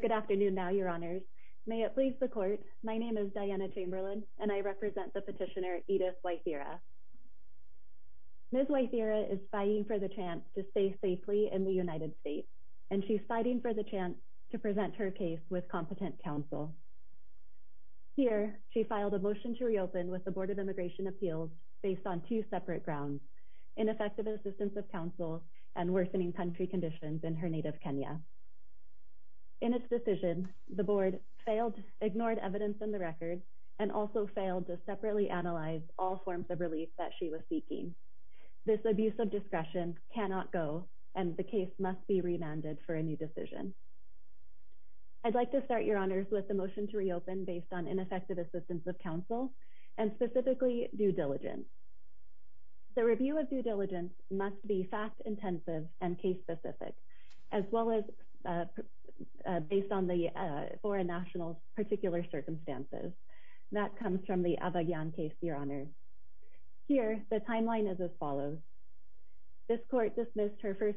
Good afternoon, Your Honors. May it please the Court, my name is Diana Chamberlain and I represent the petitioner, Edith Waithira. Ms. Waithira is fighting for the chance to reopen her case with competent counsel. Here, she filed a motion to reopen with the Board of Immigration Appeals based on two separate grounds, ineffective assistance of counsel and worsening country conditions in her native Kenya. In its decision, the Board ignored evidence in the record and also failed to separately analyze all forms of relief that she was seeking. This abuse of discretion cannot go and the case must be remanded for a new decision. I'd like to start, Your Honors, with the motion to reopen based on ineffective assistance of counsel and specifically due diligence. The review of due diligence must be fact-intensive and case-specific as well as based on the foreign nationals' particular circumstances. That comes from the Abagyan case, Your Honors. Here, the timeline is as follows. Ms. Waithira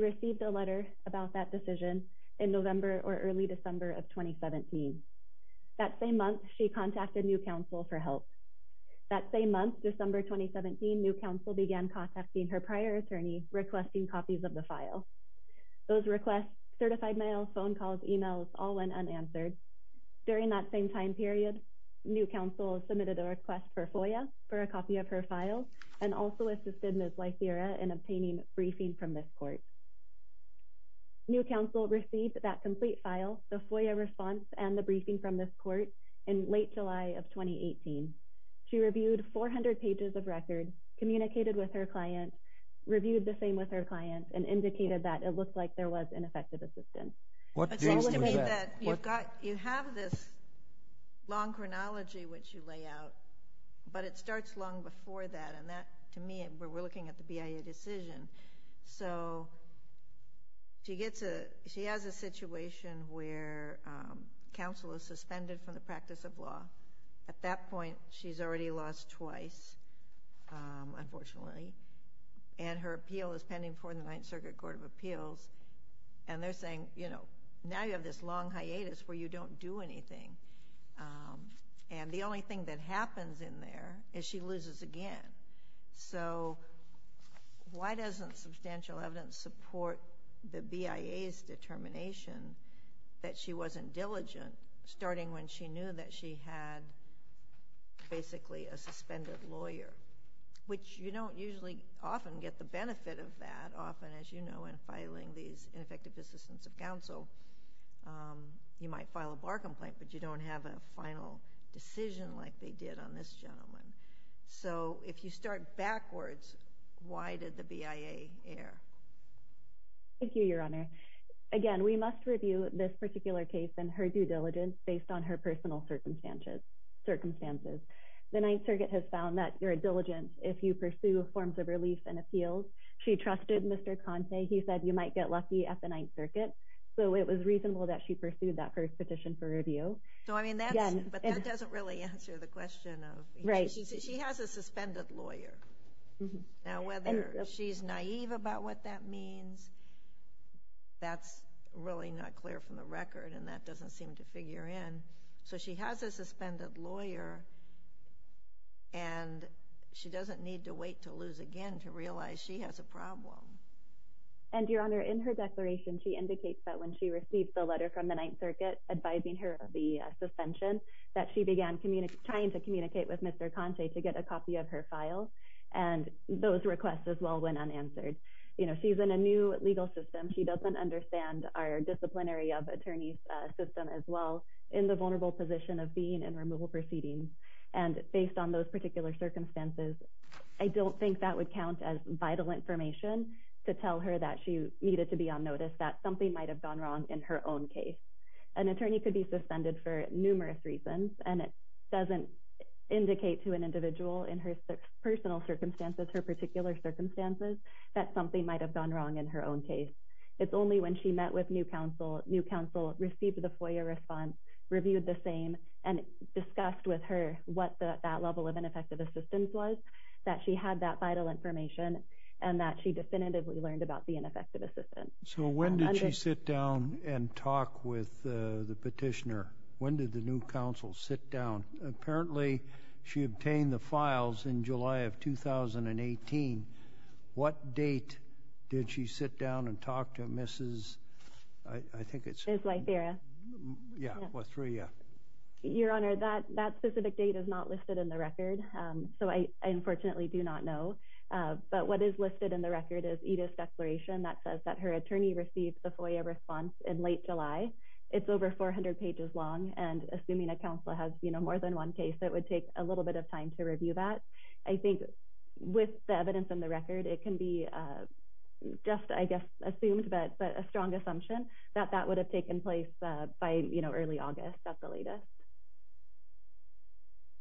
received a letter about that decision in November or early December of 2017. That same month, she contacted new counsel for help. That same month, December 2017, new counsel began contacting her prior attorney requesting copies of the file. Those requests, certified mails, phone calls, emails, all went unanswered. During that same time period, new counsel submitted a request for FOIA for a copy of her file and also assisted Ms. Waithira in obtaining briefing from this court. New counsel received that complete file, the FOIA response, and the briefing from this court in late July of 2018. She reviewed 400 pages of records, communicated with her client, reviewed the same with her client, and indicated that it looked like there was ineffective assistance. You have this long chronology which you lay out, but it starts long before that, and that, to me, we're looking at the BIA decision. So she has a situation where counsel is suspended from the practice of law. At that point, she's already lost twice, unfortunately, and her appeal is pending before the Ninth Circuit Court of Appeals, and they're saying, you know, now you have this long hiatus where you don't do anything. And the only thing that happens in there is she loses again. So why doesn't substantial evidence support the BIA's determination that she wasn't diligent, starting when she knew that she had basically a suspended lawyer, which you don't usually often get the benefit of that, often, as you know, in filing these ineffective assistance of counsel. You might file a bar but you don't have a final decision like they did on this gentleman. So if you start backwards, why did the BIA err? Thank you, Your Honor. Again, we must review this particular case and her due diligence based on her personal circumstances. The Ninth Circuit has found that your diligence, if you pursue forms of relief and appeals, she trusted Mr. Conte. He said you might get lucky at the Ninth Circuit. So it was reasonable that she pursued that first petition for review. So, I mean, that doesn't really answer the question. She has a suspended lawyer. Now, whether she's naive about what that means, that's really not clear from the record, and that doesn't seem to figure in. So she has a suspended lawyer, and she doesn't need to wait to lose again to realize she has a problem. And Your Honor, in her declaration, she indicates that when she received the letter from the Ninth Circuit advising her of the suspension, that she began trying to communicate with Mr. Conte to get a copy of her file, and those requests as well went unanswered. You know, she's in a new legal system. She doesn't understand our disciplinary of attorneys system as well in the vulnerable position of being in removal proceedings. And based on those particular circumstances, I don't think that would count as vital information to tell her that she needed to be on notice, that something might have gone wrong in her own case. An attorney could be suspended for numerous reasons, and it doesn't indicate to an individual in her personal circumstances, her particular circumstances, that something might have gone wrong in her own case. It's only when she met with new counsel, new counsel received the FOIA response, reviewed the same, and discussed with her what that level of ineffective assistance was, that she had that vital information, and that she definitively learned about the ineffective assistance. So when did she sit down and talk with the petitioner? When did the new counsel sit down? Apparently, she obtained the files in July of 2018. What date did she sit down and talk to Mrs... I think it's... Ms. Lytheria. Yeah, Lytheria. Your Honor, that specific date is not listed in the record, so I unfortunately do not know. But what is listed in the record is Edith's declaration that says that her attorney received the FOIA response in late July. It's over 400 pages long, and assuming a counsel has, you know, more than one case, it would take a little bit of time to review that. I think with the evidence in the record, it can be just, I guess, assumed but a strong assumption that that would have taken place by, you know, early August. That's the latest.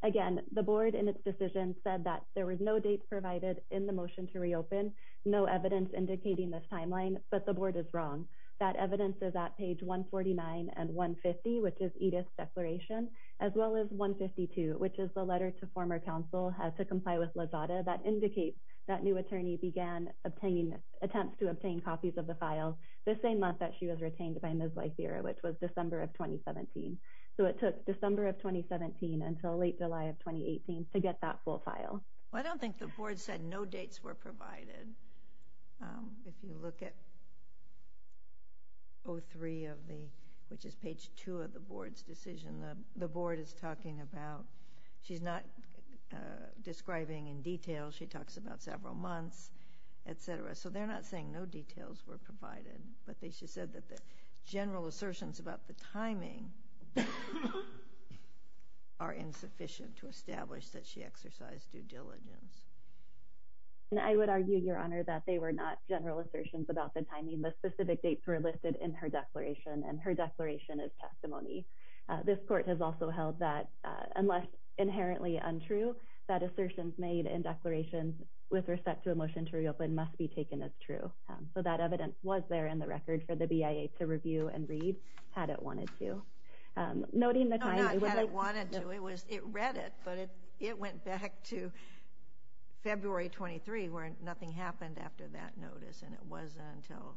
Again, the board in its decision said that there was no date provided in the motion to reopen, no evidence indicating this timeline, but the board is wrong. That evidence is at page 149 and 150, which is Edith's declaration, as well as 152, which is the letter to former counsel has to comply with Lazada that indicates that new attorney began obtaining attempts to obtain copies of the file the same month that she was retained by Ms. Lytheria, which was December of 2017. So it took December of 2017 until late July of 2018 to get that full file. Well, I don't think the board said no dates were provided. If you look at 03 of the, which is page 2 of the board's decision, the board is talking about, she's not describing in detail, she talks about several months, etc. So they're not saying no details were provided, but they just said that the general assertions about the timing are insufficient to establish that she exercised due diligence. And I would argue, Your Honor, that they were not general assertions about the timing. The specific dates were listed in her declaration, and her declaration is testimony. This court has also held that, unless inherently untrue, that assertions made in declarations with respect to a motion to reopen must be taken as true. So that evidence was there in the record for the BIA to review and read, had it wanted to. Not had it wanted to, it read it, but it went back to February 23, where nothing happened after that notice, and it wasn't until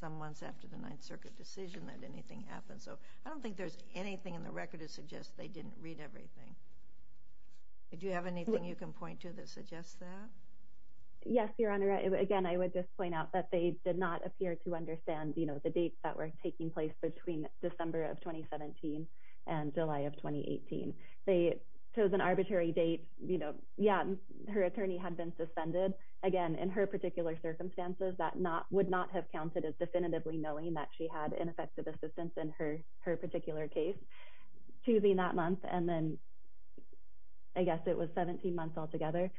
some months after the Ninth Circuit decision that anything happened. So I don't think there's anything in the record that suggests they didn't read everything. Did you have anything you can point to that suggests that? Yes, Your Honor. Again, I would just point out that they did not appear to understand, you know, the dates that were taking place between December of 2017 and July of 2018. They chose an arbitrary date, you know, yeah, her attorney had been suspended. Again, in her particular circumstances, that would not have counted as definitively knowing that she had ineffective assistance in her particular case, choosing that month, and then I guess it was 17 months altogether.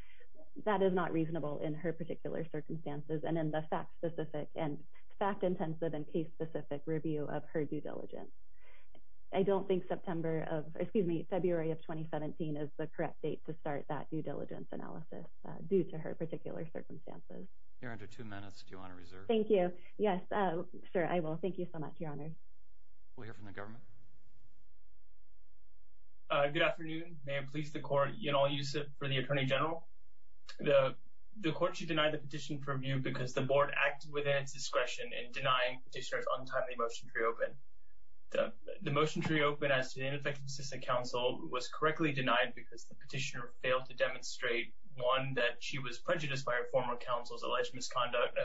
That is not reasonable in her particular circumstances and in the fact-specific and fact-intensive and case-specific review of her due diligence. I don't think September of, excuse me, February of 2017 is the correct date to start that due diligence analysis due to her particular circumstances. Your Honor, two minutes, do you want to reserve? Thank you. Yes, sir, I will. Thank you so much, Your Honor. We'll hear from the government. Good afternoon. May it please the Court, Yanal Yusuf for the Attorney General. The Court should deny the petition for review because the Board acted within its discretion in denying Petitioner's untimely motion to reopen. The motion to reopen as to the ineffective assistant counsel was correctly denied because the Petitioner failed to demonstrate, one, she was prejudiced by her former counsel's alleged misconduct,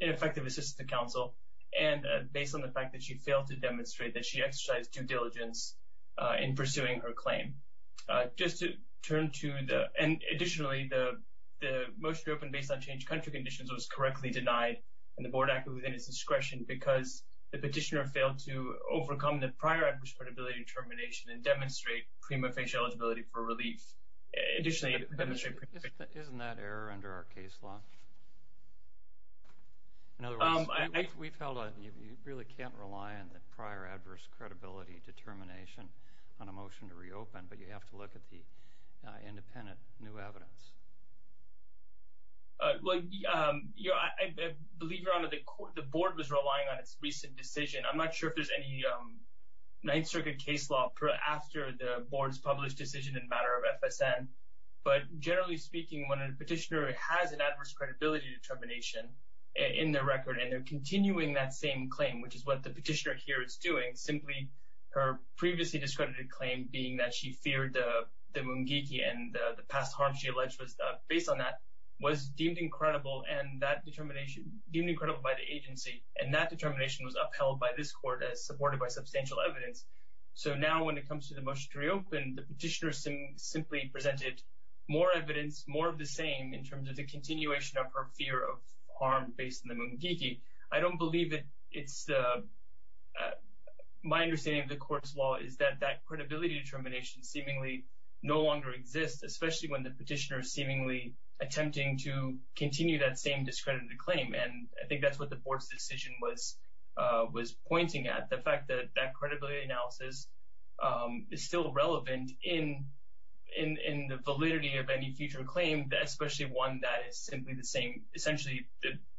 ineffective assistant counsel, and based on the fact that she failed to demonstrate that she exercised due diligence in pursuing her claim. Additionally, the motion to open based on changed country conditions was correctly denied and the Board acted within its discretion because the Petitioner failed to overcome the prior adverse credibility determination and demonstrate prima facie eligibility for relief. Isn't that error under our case law? In other words, we've held on, you really can't rely on the prior adverse credibility determination on a motion to reopen, but you have to look at the independent new evidence. Well, I believe, Your Honor, the Board was relying on its recent decision. I'm not sure if there's any Ninth Circuit case law after the Board's published decision in matter of FSN, but generally speaking, when a Petitioner has an adverse credibility determination in their record and they're continuing that same claim, which is what the Petitioner here is doing, simply her previously discredited claim being that she feared the Mungiki and the past harm she alleged was based on that was deemed incredible and that determination, deemed supported by substantial evidence. So now when it comes to the motion to reopen, the Petitioner simply presented more evidence, more of the same in terms of the continuation of her fear of harm based on the Mungiki. I don't believe it's, my understanding of the court's law is that that credibility determination seemingly no longer exists, especially when the Petitioner seemingly attempting to continue that same discredited claim. And I think that's what the Board's decision was pointing at, the fact that that credibility analysis is still relevant in the validity of any future claim, especially one that is simply the same, essentially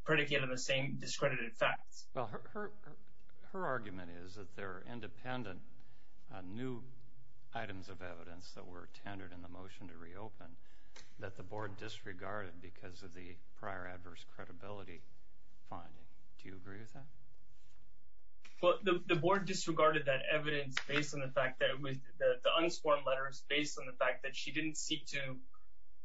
predicated on the same discredited facts. Well, her argument is that there are independent new items of evidence that were tendered in the motion to reopen that the Board disregarded because of the prior adverse credibility finding. Do you agree with that? Well, the Board disregarded that evidence based on the fact that it was, the unsworn letters based on the fact that she didn't seek to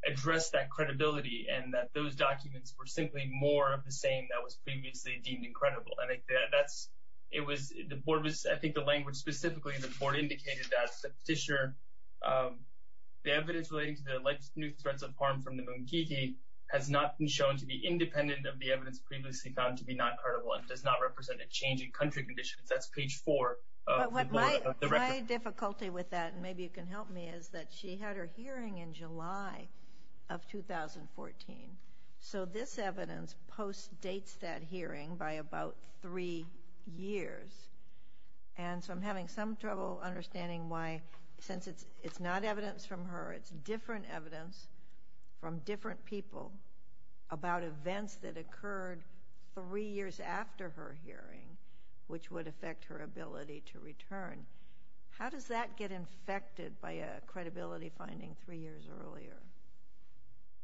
address that credibility and that those documents were simply more of the same that was previously deemed incredible. And that's, it was, the Board was, I think the language specifically, the Board indicated that the Petitioner, the evidence relating to the alleged new threats of harm from the Munkiti has not been shown to be independent of the evidence previously found to be not credible and does not represent a change in country conditions. That's page four of the record. But my difficulty with that, and maybe you can help me, is that she had her hearing in July of 2014. So this evidence post-dates that hearing by about three years. And so I'm having some understanding why, since it's not evidence from her, it's different evidence from different people about events that occurred three years after her hearing, which would affect her ability to return. How does that get infected by a credibility finding three years earlier?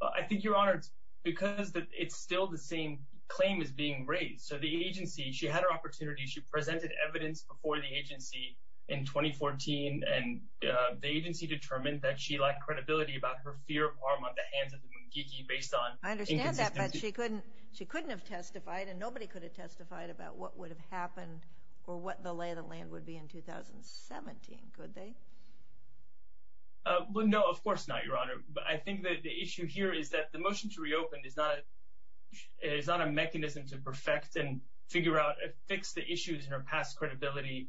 I think, Your Honor, it's because it's still the same claim is being raised. So the agency, she had her opportunity, she presented evidence before the agency in 2014, and the agency determined that she lacked credibility about her fear of harm on the hands of the Munkiti based on I understand that, but she couldn't, she couldn't have testified and nobody could have testified about what would have happened or what the lay of the land would be in 2017, could they? Well, no, of course not, Your Honor. But I think that the issue here is that the motion to reopen is not a mechanism to perfect and figure out, fix the issues in her past credibility.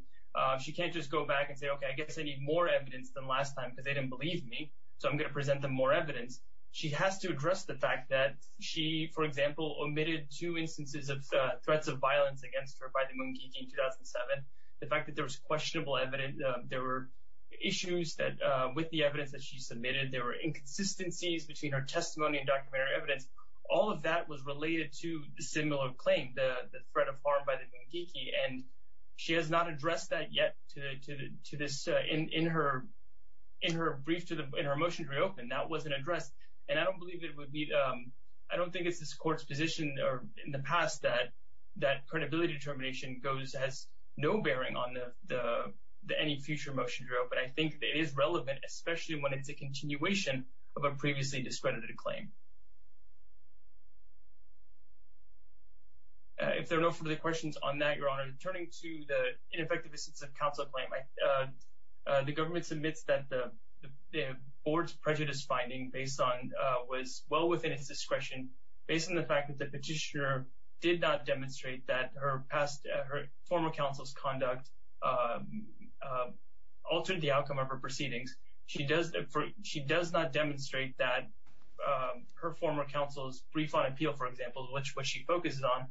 She can't just go back and say, okay, I guess I need more evidence than last time because they didn't believe me. So I'm going to present them more evidence. She has to address the fact that she, for example, omitted two instances of threats of violence against her by the Munkiti in 2007. The fact that there was questionable evidence, there were issues that with the evidence that she submitted, there were inconsistencies between her testimony and documentary evidence. All of that was related to the similar claim, the threat of harm by the Munkiti. And she has not addressed that yet to this, in her brief, in her motion to reopen, that wasn't addressed. And I don't believe it would be, I don't think it's this court's position or in the past that credibility determination goes, has no bearing on any future motion to reopen. I think it is a continuation of a previously discredited claim. If there are no further questions on that, Your Honor, turning to the ineffective instance of counsel claim, the government submits that the board's prejudice finding based on, was well within its discretion, based on the fact that the petitioner did not demonstrate that her past, her former counsel's conduct altered the outcome of her proceedings. She does not demonstrate that her former counsel's brief on appeal, for example, which she focuses on,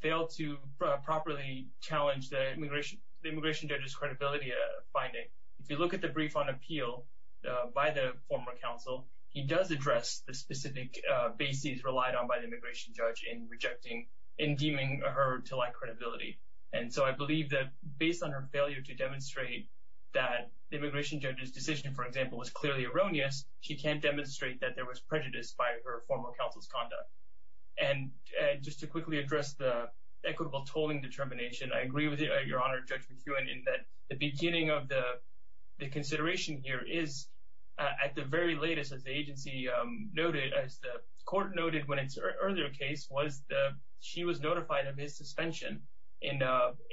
failed to properly challenge the immigration judge's credibility finding. If you look at the brief on appeal by the former counsel, he does address the specific bases relied on by the immigration judge. And so I believe that based on her failure to demonstrate that the immigration judge's decision, for example, was clearly erroneous, she can't demonstrate that there was prejudice by her former counsel's conduct. And just to quickly address the equitable tolling determination, I agree with you, Your Honor, Judge McEwen, in that the beginning of the consideration here is at the very latest, as the agency noted, as the court noted when its earlier case was, she was notified of his suspension in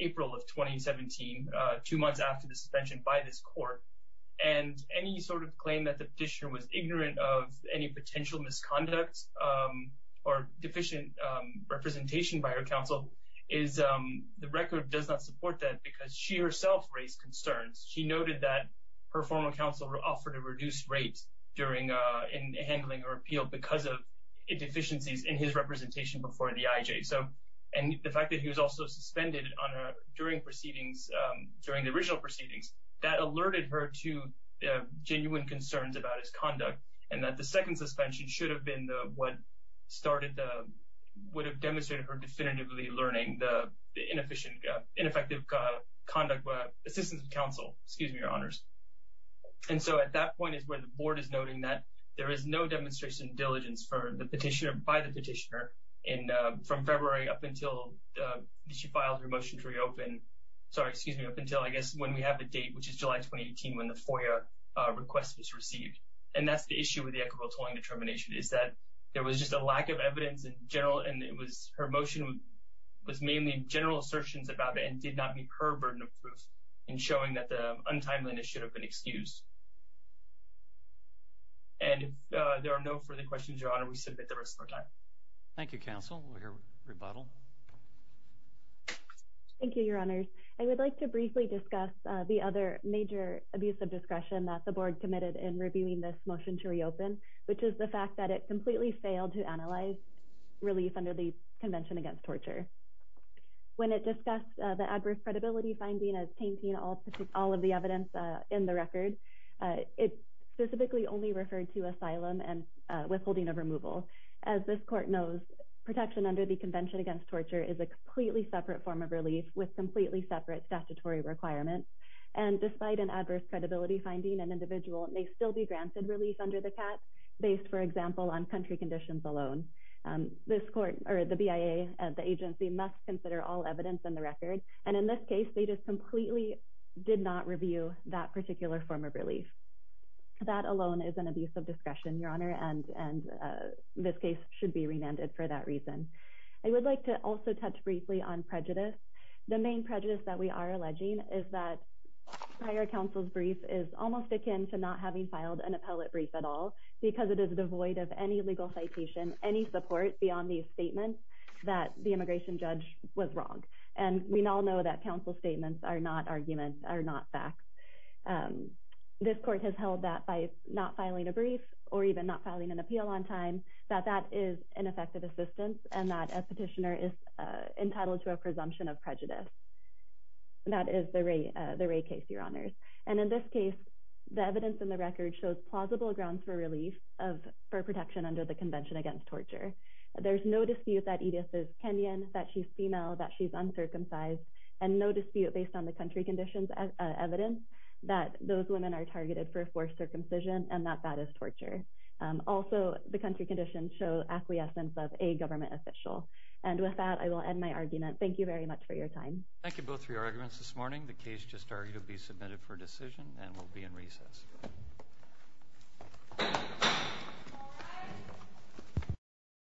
April of 2017, two months after the suspension by this court. And any sort of claim that the petitioner was ignorant of any potential misconduct or deficient representation by her counsel is, the record does not support that because she herself raised concerns. She noted that her former counsel offered a reduced rate in handling her appeal because of deficiencies in his representation before the IJ. And the fact that he was also suspended during the original proceedings, that alerted her to genuine concerns about his conduct, and that the second suspension should have been what would have demonstrated her definitively learning the ineffective conduct assistance of counsel, excuse me, Your Honors. And so at that point is where the board is noting that there is no demonstration of diligence for the petitioner by the petitioner from February up until she filed her motion to reopen, sorry, excuse me, up until, I guess, when we have the date, which is July 2018, when the FOIA request was received. And that's the issue with the equitable tolling determination is that there was just a lack of evidence in general, and it was her motion was mainly general assertions about it and did not meet her burden of truth in showing that the untimeliness should have been excused. And if there are no further questions, Your Honor, we submit the rest of the time. Thank you, counsel. We'll hear rebuttal. Thank you, Your Honors. I would like to briefly discuss the other major abuse of discretion that the board committed in reviewing this motion to reopen, which is the fact that it completely failed to analyze relief under the Convention Against Torture. When it discussed the adverse credibility finding as tainting all of the evidence in the record, it specifically only referred to asylum and withholding of removal. As this court knows, protection under the Convention Against Torture is a completely separate form of relief with completely separate statutory requirements. And despite an adverse credibility finding, an individual may still be granted relief under the CAC based, for example, on country conditions alone. This court or the BIA at the agency must consider all evidence in the record. And in this case, they just completely did not review that particular form of relief. That alone is an abuse of discretion, Your Honor, and this case should be remanded for that reason. I would like to also touch briefly on prejudice. The main prejudice that we are alleging is that prior counsel's brief is almost akin to not having filed an appellate brief at all because it is devoid of any legal citation, any support beyond these statements that the immigration judge was wrong. And we all know that counsel's statements are not arguments, are not facts. This court has held that by not filing a brief or even not filing an appeal on time, that that is ineffective assistance and that a petitioner is entitled to a presumption of prejudice. That is the Ray case, Your Honors. And in this case, the evidence in the record shows plausible grounds for relief for protection under the Convention Against Torture. There's no dispute that Edith is Kenyan, that she's female, that she's uncircumcised, and no dispute based on the country conditions evidence that those women are targeted for forced circumcision and that that is torture. Also, the country conditions show acquiescence of a government official. And with that, I will end my argument. Thank you very much for your time. Thank you both for your arguments this morning. The case just argued will be submitted for decision and will be in recess.